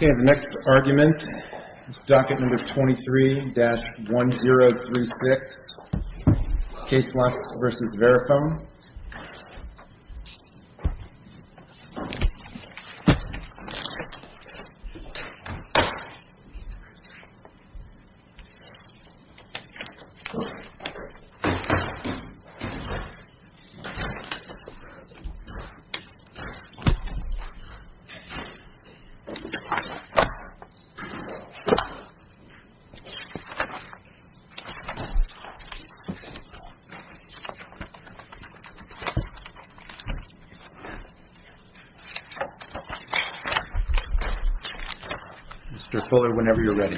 The next argument is docket number 23-1036, Caselas v. VeriFone. Mr. Fuller, whenever you're ready. Mr. Fuller, whenever you're ready.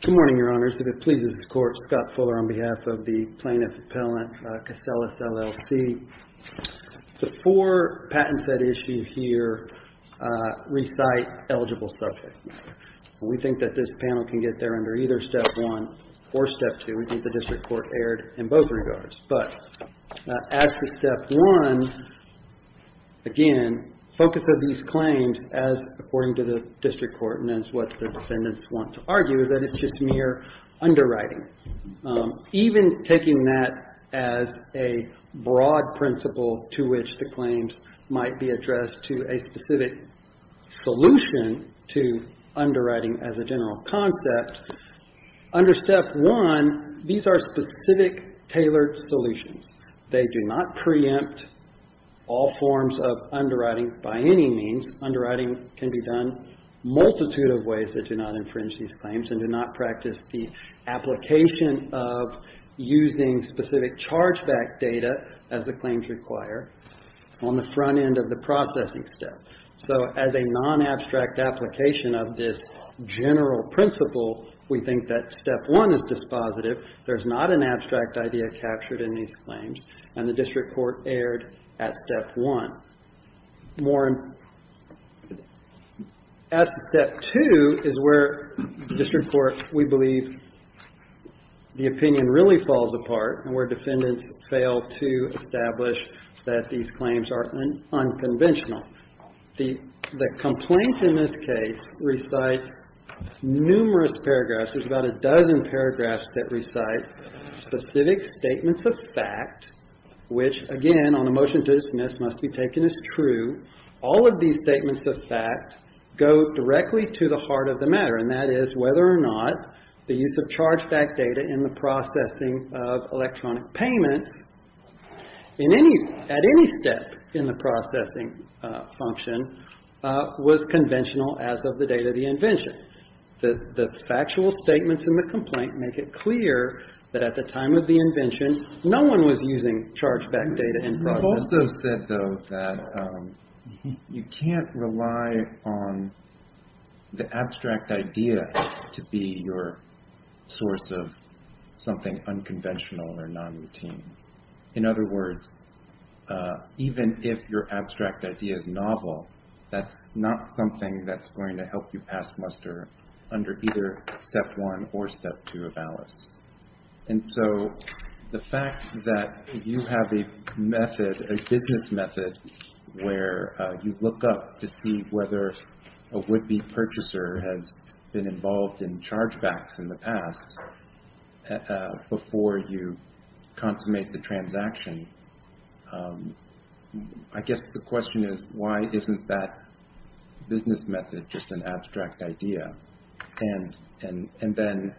Good morning, Your Honors. If it pleases the Court, Scott Fuller on behalf of the Plaintiff-Appellant Caselas, LLC. The four patents at issue here recite eligible subject matter. We think that this panel can get there under either Step 1 or Step 2. We think the district court erred in both regards. But as for Step 1, again, the focus of these claims as according to the district court and as what the defendants want to argue is that it's just mere underwriting. Even taking that as a broad principle to which the claims might be addressed to a specific solution to underwriting as a general concept, under Step 1, these are specific tailored solutions. They do not preempt all forms of underwriting by any means. Underwriting can be done a multitude of ways that do not infringe these claims and do not practice the application of using specific chargeback data as the claims require on the front end of the processing step. So as a non-abstract application of this general principle, we think that Step 1 is dispositive. There's not an abstract idea captured in these claims, and the district court erred at Step 1. More as to Step 2 is where district court, we believe the opinion really falls apart and where defendants fail to establish that these claims are unconventional. The complaint in this case recites numerous paragraphs. There's about a dozen paragraphs that recite specific statements of fact, which, again, on a motion to dismiss must be taken as true. All of these statements of fact go directly to the heart of the matter, and that is whether or not the use of chargeback data in the processing of electronic payments at any step in the processing function was conventional as of the date of the invention. The factual statements in the complaint make it clear that at the time of the invention, no one was using chargeback data in processing. Ostho said, though, that you can't rely on the abstract idea to be your source of something unconventional or non-routine. In other words, even if your abstract idea is novel, that's not something that's going to help you pass muster under either Step 1 or Step 2 of Alice. And so the fact that you have a method, a business method, where you look up to see whether a would-be purchaser has been involved in chargebacks in the past before you consummate the transaction, I guess the question is, why isn't that business method just an abstract idea? And then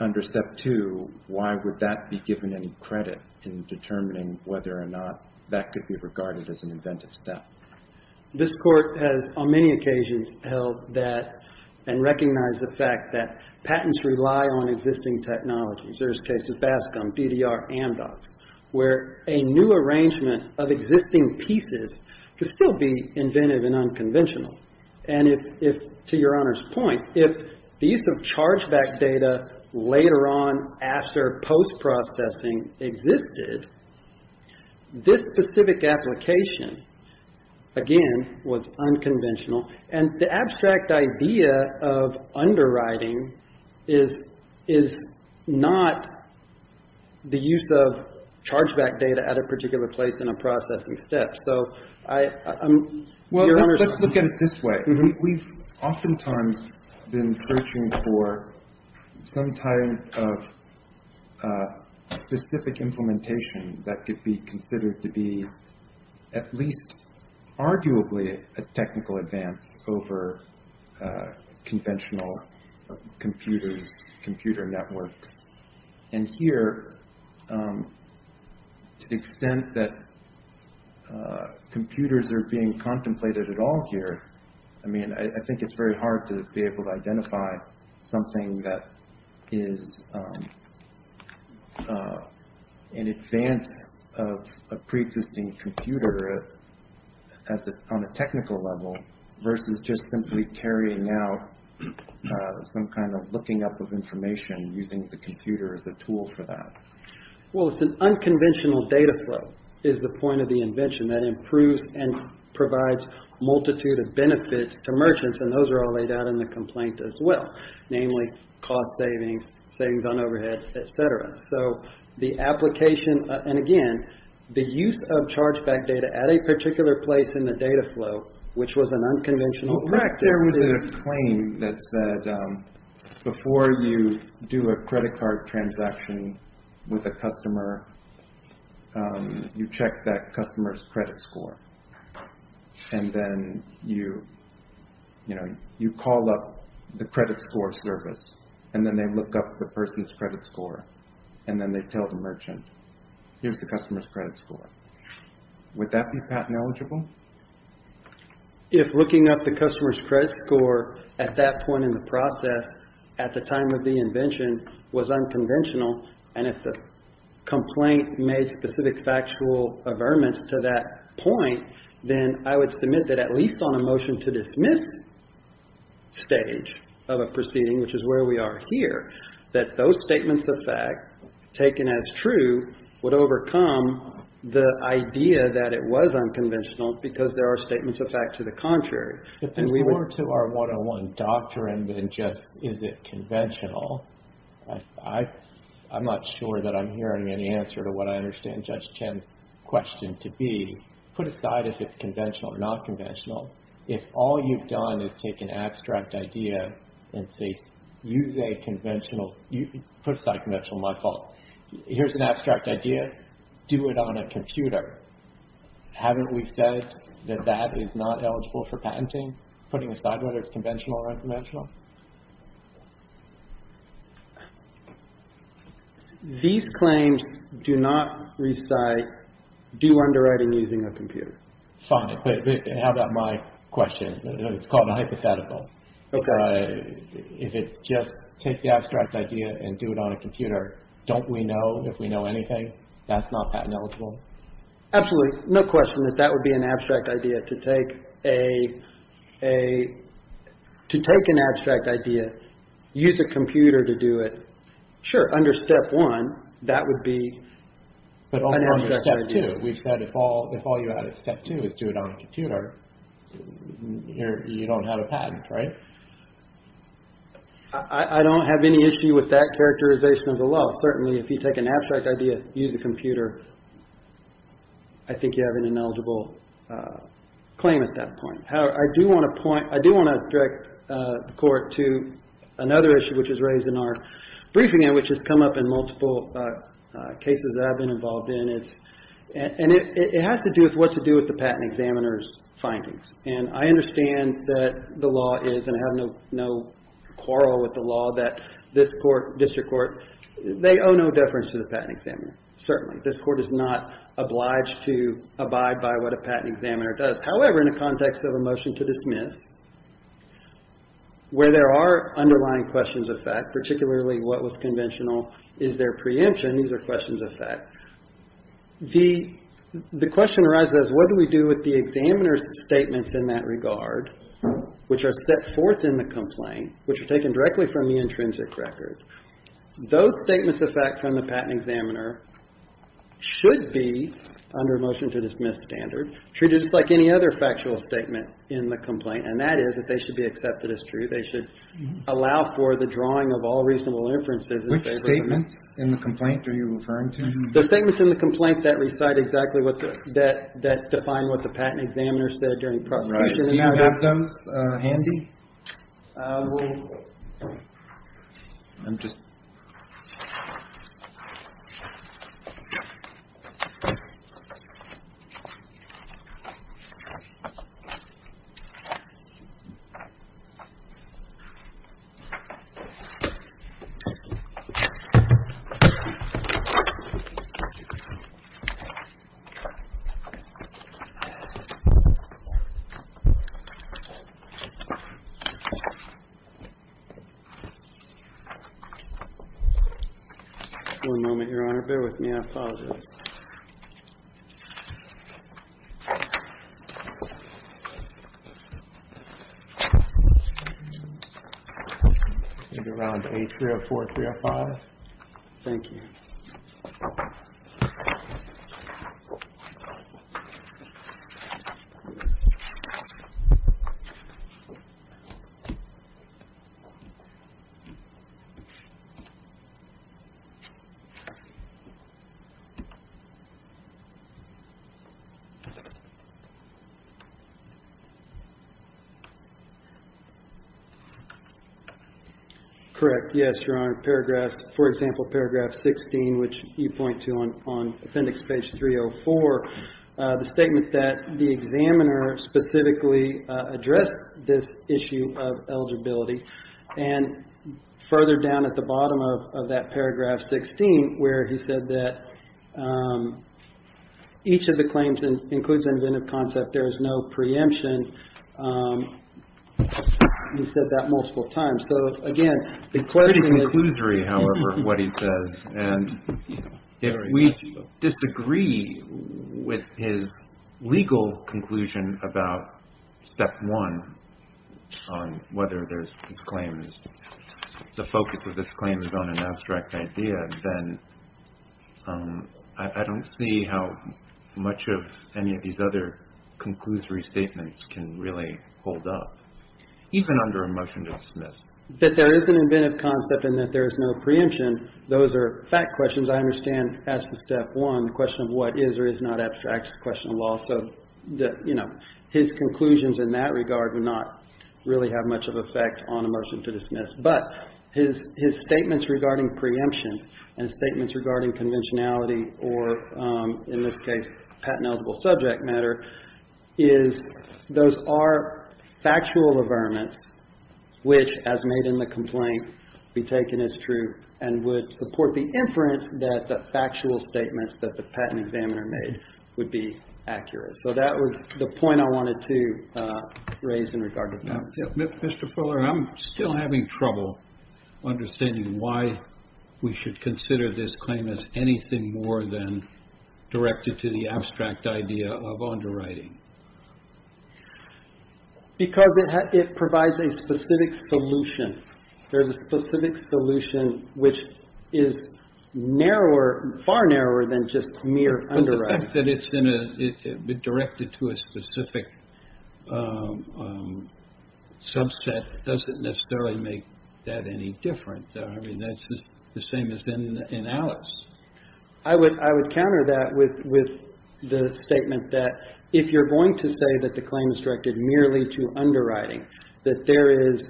under Step 2, why would that be given any credit in determining whether or not that could be regarded as an inventive step? This Court has on many occasions held that and recognized the fact that patents rely on existing technologies. There's cases, BASC, BDR, AMDOCS, where a new arrangement of existing pieces could still be inventive and unconventional. And if, to Your Honor's point, if the use of chargeback data later on after post-processing existed, this specific application, again, was unconventional. And the abstract idea of underwriting is not the use of chargeback data at a particular place in a processing step. So, Your Honor's point. Well, let's look at it this way. We've oftentimes been searching for some type of specific implementation that could be considered to be at least arguably a technical advance over conventional computers, computer networks. And here, to the extent that computers are being contemplated at all here, I mean, I think it's very hard to be able to identify something that is an advance of a preexisting computer on a technical level versus just simply carrying out some kind of looking up of information using the computer as a tool for that. Well, it's an unconventional data flow is the point of the invention that improves and provides multitude of benefits to merchants. And those are all laid out in the complaint as well, namely cost savings, savings on overhead, et cetera. So, the application, and again, the use of chargeback data at a particular place in the data flow, which was an unconventional practice is... Before you do a credit card transaction with a customer, you check that customer's credit score. And then you call up the credit score service, and then they look up the person's credit score, and then they tell the merchant, here's the customer's credit score. Would that be patent eligible? If looking up the customer's credit score at that point in the process at the time of the invention was unconventional, and if the complaint made specific factual averments to that point, then I would submit that at least on a motion to dismiss stage of a proceeding, which is where we are here, that those statements of fact taken as true would overcome the idea that it was unconventional because there are statements of fact to the contrary. But then we would... It's more to our 101 doctrine than just is it conventional. I'm not sure that I'm hearing any answer to what I understand Judge Chen's question to be. Put aside if it's conventional or non-conventional. If all you've done is take an abstract idea and say, use a conventional... put aside conventional, my fault. Here's an abstract idea. Do it on a computer. Haven't we said that that is not eligible for patenting? Putting aside whether it's conventional or unconventional? These claims do not recite, do underwriting using a computer. Fine. But how about my question? It's called a hypothetical. Okay. Or if it's just take the abstract idea and do it on a computer, don't we know if we know anything, that's not patent eligible? Absolutely. No question that that would be an abstract idea to take an abstract idea, use a computer to do it. Sure, under step one, that would be an abstract idea. But also under step two, we've said if all you added to step two is do it on a computer, you don't have a patent, right? I don't have any issue with that characterization of the law. Certainly, if you take an abstract idea, use a computer, I think you have an ineligible claim at that point. However, I do want to point, I do want to direct the court to another issue which is raised in our briefing and which has come up in multiple cases that I've been involved in. It has to do with what to do with the patent examiner's findings. I understand that the law is, and I have no quarrel with the law, that this court, district court, they owe no deference to the patent examiner. Certainly. This court is not obliged to abide by what a patent examiner does. However, in the context of a motion to dismiss, where there are underlying questions of fact, particularly what was conventional, is there preemption, these are questions of fact. The question arises, what do we do with the examiner's statements in that regard, which are set forth in the complaint, which are taken directly from the intrinsic record? Those statements of fact from the patent examiner should be, under a motion to dismiss standard, treated just like any other factual statement in the complaint, and that is that they should be accepted as true. They should allow for the drawing of all reasonable inferences. Which statements in the complaint are you referring to? The statements in the complaint that recite exactly what the, that define what the patent examiner said during prosecution. Right. Do you have those handy? I'm just. One moment, Your Honor. Bear with me, I apologize. Is it around 8304305? Thank you. Correct. Yes, Your Honor. Paragraphs, for example, paragraph 60, which you point to on appendix page 304, the statement that the examiner specifically addressed this issue of eligibility, and further down at the bottom of that paragraph 16, where he said that each of the claims includes inventive concept, there is no preemption. He said that multiple times. So, again, the question is. I disagree, however, with what he says, and if we disagree with his legal conclusion about step one on whether there's claims, the focus of this claim is on an abstract idea, then I don't see how much of any of these other conclusory statements can really hold up, even under a motion to dismiss. That there is an inventive concept and that there is no preemption, those are fact questions. I understand, as to step one, the question of what is or is not abstract is a question of law. So, you know, his conclusions in that regard do not really have much of an effect on a motion to dismiss. But his statements regarding preemption and statements regarding conventionality or, in this case, patent-eligible subject matter, is those are factual affirmance, which, as made in the complaint, be taken as true and would support the inference that the factual statements that the patent examiner made would be accurate. So, that was the point I wanted to raise in regard to patents. Mr. Fuller, I'm still having trouble understanding why we should consider this claim as anything more than directed to the abstract idea of underwriting. Because it provides a specific solution. There's a specific solution which is narrower, far narrower than just mere underwriting. The fact that it's been directed to a specific subset doesn't necessarily make that any different. I mean, that's just the same as in Alice. I would counter that with the statement that if you're going to say that the claim is directed merely to underwriting, that there is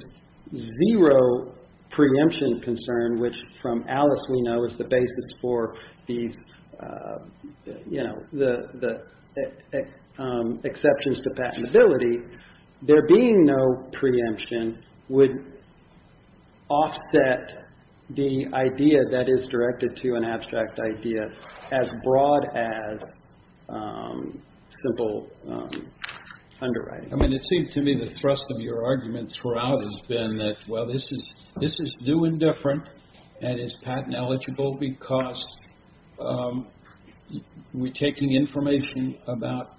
zero preemption concern, which from Alice we know is the basis for these, you know, the exceptions to patentability, there being no preemption would offset the idea that is directed to an abstract idea as broad as simple underwriting. I mean, it seems to me the thrust of your argument throughout has been that, well, this is new and different and is patent eligible because we're taking information about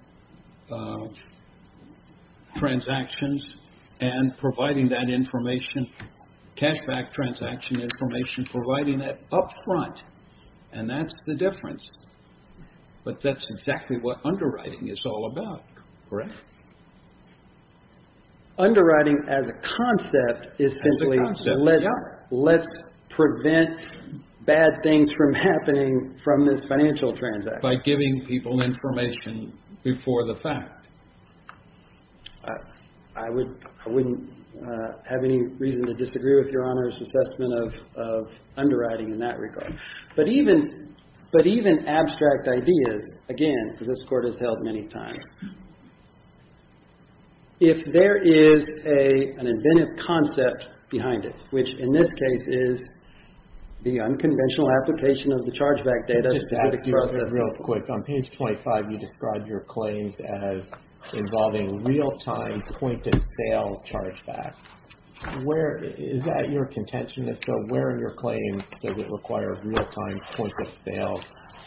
transactions and providing that information, cashback transaction information, providing that up front, and that's the difference. But that's exactly what underwriting is all about, correct? Underwriting as a concept is simply let's prevent bad things from happening from this financial transaction. By giving people information before the fact. I wouldn't have any reason to disagree with Your Honor's assessment of underwriting in that regard. But even abstract ideas, again, because this Court has held many times, if there is an inventive concept behind it, which in this case is the unconventional application of the chargeback data. Just to ask you real quick, on page 25 you described your claims as involving real-time point-of-sale chargeback. Is that your contention as to where in your claims does it require real-time point-of-sale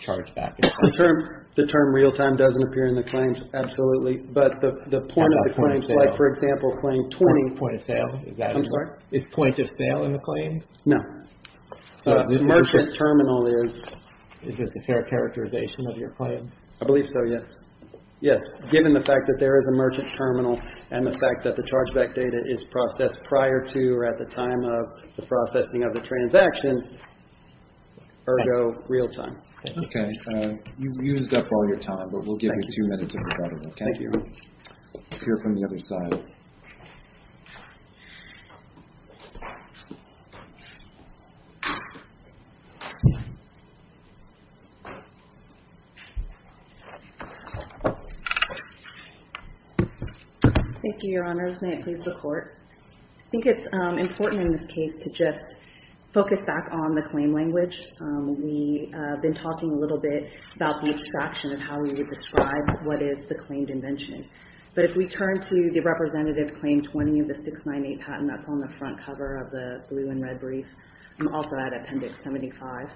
chargeback? The term real-time doesn't appear in the claims, absolutely. But the point-of-sale, like for example, claim 20. Point-of-sale? I'm sorry? Is point-of-sale in the claims? No. Merchant terminal is. Is this a fair characterization of your claims? I believe so, yes. Yes, given the fact that there is a merchant terminal and the fact that the chargeback data is processed prior to or at the time of the processing of the transaction, ergo real-time. Okay. You've used up all your time, but we'll give you two minutes if you'd rather. Thank you. Let's hear from the other side. Thank you, Your Honors. May it please the Court. I think it's important in this case to just focus back on the claim language. We've been talking a little bit about the abstraction of how we would describe what is the claimed invention. But if we turn to the representative claim 20 of the 698 patent that's on the front cover of the blue and red brief, also at Appendix 75,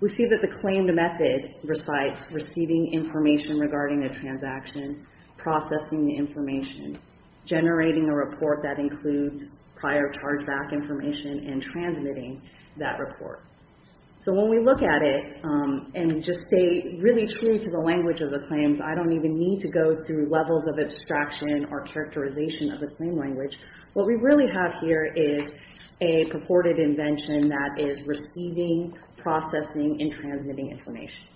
we see that the claimed method recites receiving information regarding a transaction, processing the information, generating a report that includes prior chargeback information, and transmitting that report. So when we look at it and just stay really true to the language of the claims, I don't even need to go through levels of abstraction or characterization of the claim language. What we really have here is a purported invention that is receiving, processing, and transmitting information.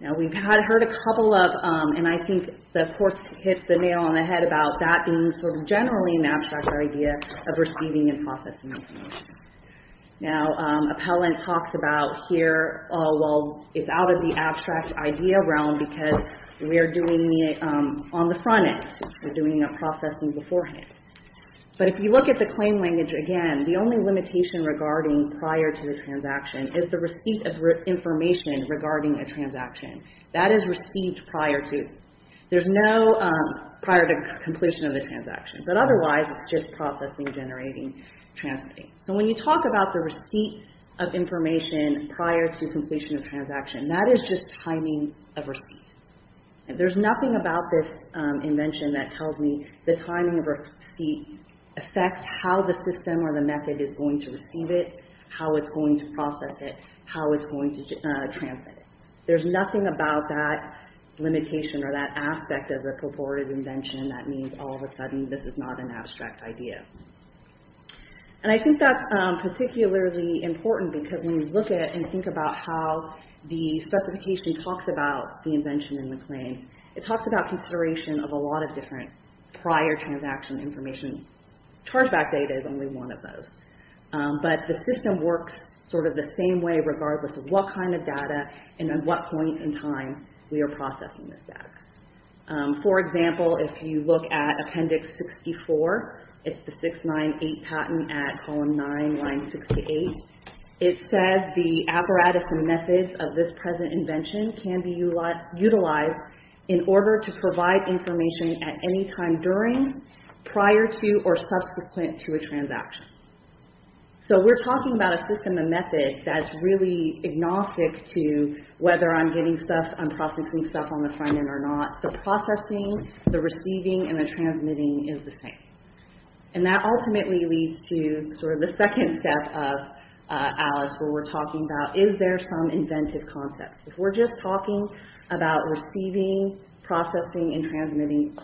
Now, we've heard a couple of, and I think the Court hit the nail on the head about that being sort of generally an abstract idea of receiving and processing information. Now, Appellant talks about here, well, it's out of the abstract idea realm because we are doing it on the front end. We're doing a processing beforehand. But if you look at the claim language again, the only limitation regarding prior to the transaction is the receipt of information regarding a transaction. That is received prior to. There's no prior to completion of the transaction. But otherwise, it's just processing, generating, transmitting. So when you talk about the receipt of information prior to completion of the transaction, that is just timing of receipt. There's nothing about this invention that tells me the timing of receipt affects how the system or the method is going to receive it, how it's going to process it, how it's going to transmit it. There's nothing about that limitation or that aspect of the purported invention that means all of a sudden this is not an abstract idea. And I think that's particularly important because when you look at it and think about how the specification talks about the invention and the claim, it talks about consideration of a lot of different prior transaction information. Chargeback data is only one of those. But the system works sort of the same way regardless of what kind of data and at what point in time we are processing this data. For example, if you look at Appendix 64, it's the 698 patent at Column 9, Line 68. It says the apparatus and methods of this present invention can be utilized in order to provide information at any time during, prior to, or subsequent to a transaction. So we're talking about a system and method that's really agnostic to whether I'm getting stuff, I'm processing stuff on the front end or not. The processing, the receiving, and the transmitting is the same. And that ultimately leads to sort of the second step of Alice where we're talking about is there some inventive concept. If we're just talking about receiving, processing, and transmitting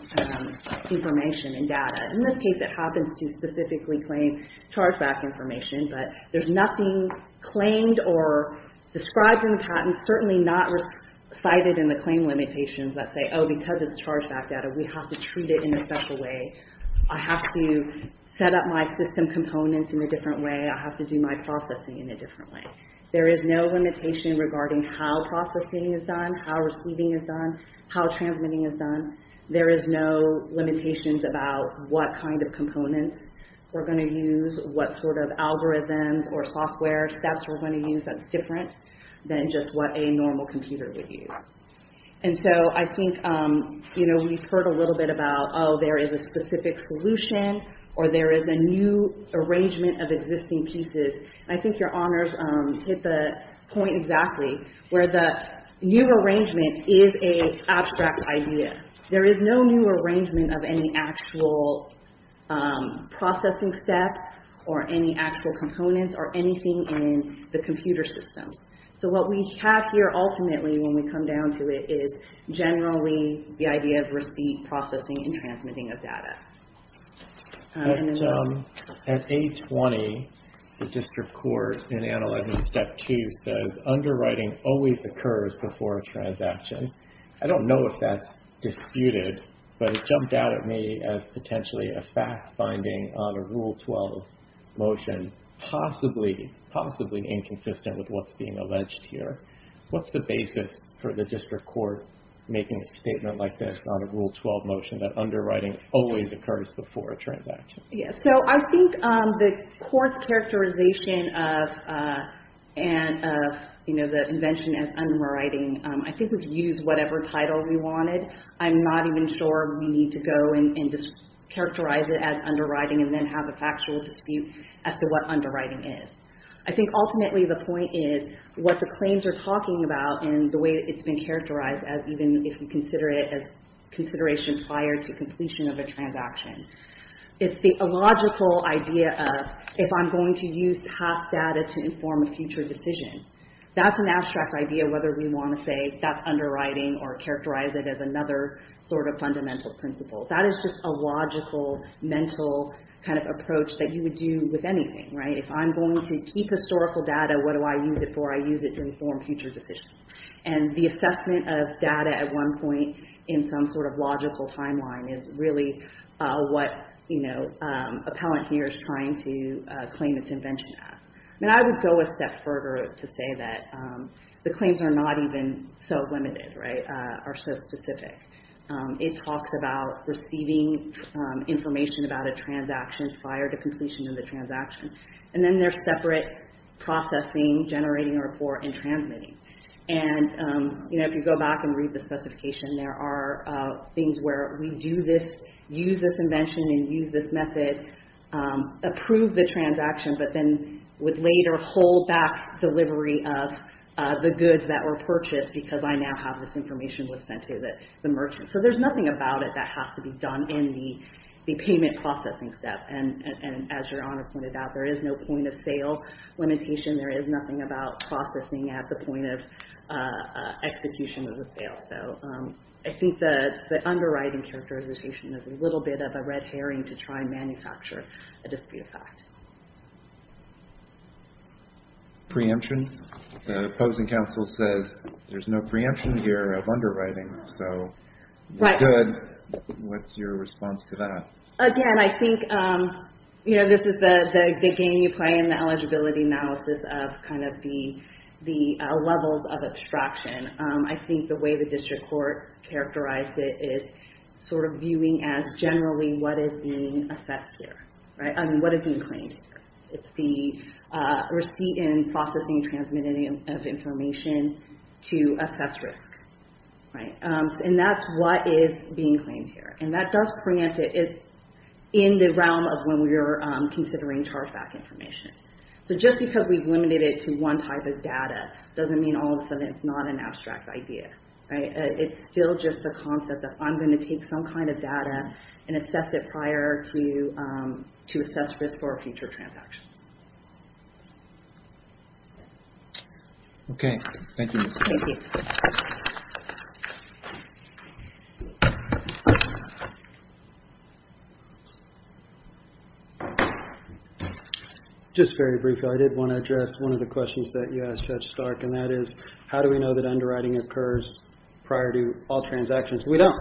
information and data, in this case it happens to specifically claim chargeback information, but there's nothing claimed or described in the patent, certainly not recited in the claim limitations that say, oh, because it's chargeback data, we have to treat it in a special way. I have to set up my system components in a different way. I have to do my processing in a different way. There is no limitation regarding how processing is done, how receiving is done, how transmitting is done. There is no limitations about what kind of components we're going to use, what sort of algorithms or software steps we're going to use that's different than just what a normal computer would use. And so I think, you know, we've heard a little bit about, oh, there is a specific solution, or there is a new arrangement of existing pieces. I think your honors hit the point exactly where the new arrangement is an abstract idea. There is no new arrangement of any actual processing step or any actual components or anything in the computer system. So what we have here ultimately when we come down to it is generally the idea of receipt, processing, and transmitting of data. At A20, the district court in analyzing Step 2 says, underwriting always occurs before a transaction. I don't know if that's disputed, but it jumped out at me as potentially a fact finding on a Rule 12 motion, possibly inconsistent with what's being alleged here. What's the basis for the district court making a statement like this on a Rule 12 motion, that underwriting always occurs before a transaction? Yes. So I think the court's characterization of, you know, the invention of underwriting, I think would use whatever title we wanted. I'm not even sure we need to go and characterize it as underwriting and then have a factual dispute as to what underwriting is. I think ultimately the point is what the claims are talking about and the way it's been characterized, even if you consider it as consideration prior to completion of a transaction. It's the illogical idea of if I'm going to use past data to inform a future decision, that's an abstract idea whether we want to say that's underwriting or characterize it as another sort of fundamental principle. That is just a logical, mental kind of approach that you would do with anything, right? If I'm going to keep historical data, what do I use it for? I use it to inform future decisions. And the assessment of data at one point in some sort of logical timeline is really what, you know, appellant here is trying to claim its invention as. And I would go a step further to say that the claims are not even so limited, right, are so specific. It talks about receiving information about a transaction prior to completion of the transaction. And then there's separate processing, generating a report, and transmitting. And, you know, if you go back and read the specification, there are things where we do this, use this invention and use this method, approve the transaction, but then would later hold back delivery of the goods that were purchased because I now have this information was sent to the merchant. So there's nothing about it that has to be done in the payment processing step. And as Your Honor pointed out, there is no point-of-sale limitation. There is nothing about processing at the point of execution of the sale. So I think the underwriting characterization is a little bit of a red herring to try and manufacture a dispute of fact. Preemption? The opposing counsel says there's no preemption here of underwriting. So if it's good, what's your response to that? Again, I think, you know, this is the game you play in the eligibility analysis of kind of the levels of abstraction. I think the way the district court characterized it is sort of viewing as generally what is being assessed here, right? I mean, what is being claimed? It's the receipt in processing and transmitting of information to assess risk, right? And that's what is being claimed here. And that does preempt it in the realm of when we are considering TARFAC information. So just because we've limited it to one type of data doesn't mean all of a sudden it's not an abstract idea, right? It's still just the concept that I'm going to take some kind of data and assess it prior to assess risk for a future transaction. Okay. Thank you. Thank you. Just very briefly, I did want to address one of the questions that you asked Judge Stark, and that is how do we know that underwriting occurs prior to all transactions? We don't.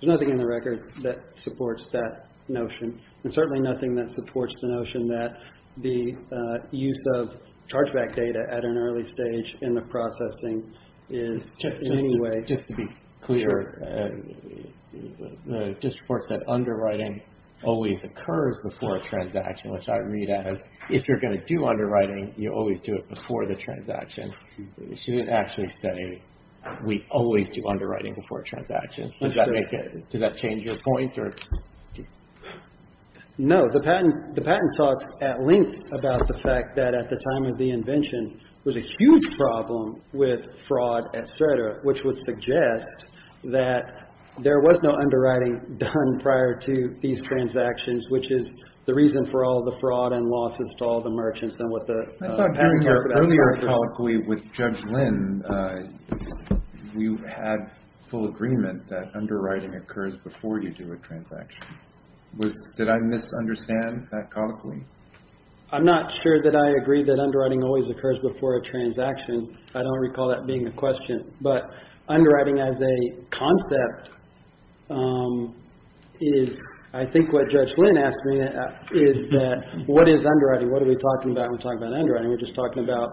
There's nothing in the record that supports that notion, and certainly nothing that supports the notion that the use of chargeback data at an early stage in the processing is in any way. Just to be clear, it just reports that underwriting always occurs before a transaction, which I read as if you're going to do underwriting, you always do it before the transaction. It shouldn't actually say we always do underwriting before a transaction. Does that change your point? No. The patent talks at length about the fact that at the time of the invention, there was a huge problem with fraud, et cetera, which would suggest that there was no underwriting done prior to these transactions, which is the reason for all the fraud and losses to all the merchants and what the patent talks about. I thought during your earlier colloquy with Judge Lynn, you had full agreement that underwriting occurs before you do a transaction. Did I misunderstand that colloquy? I'm not sure that I agree that underwriting always occurs before a transaction. I don't recall that being a question, but underwriting as a concept is, I think what Judge Lynn asked me is that what is underwriting? What are we talking about when we're talking about underwriting? We're just talking about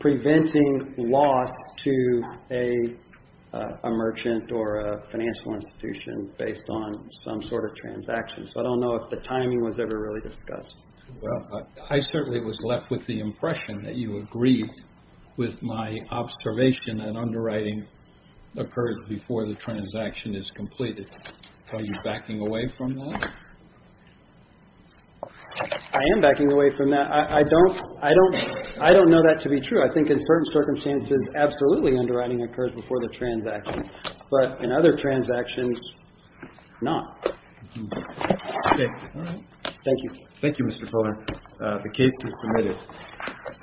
preventing loss to a merchant or a financial institution based on some sort of transaction. So I don't know if the timing was ever really discussed. Well, I certainly was left with the impression that you agreed with my observation that underwriting occurred before the transaction is completed. Are you backing away from that? I am backing away from that. I don't know that to be true. I think in certain circumstances, absolutely underwriting occurs before the transaction, but in other transactions, not. Okay. All right. Thank you. Thank you, Mr. Fuller. The case is submitted.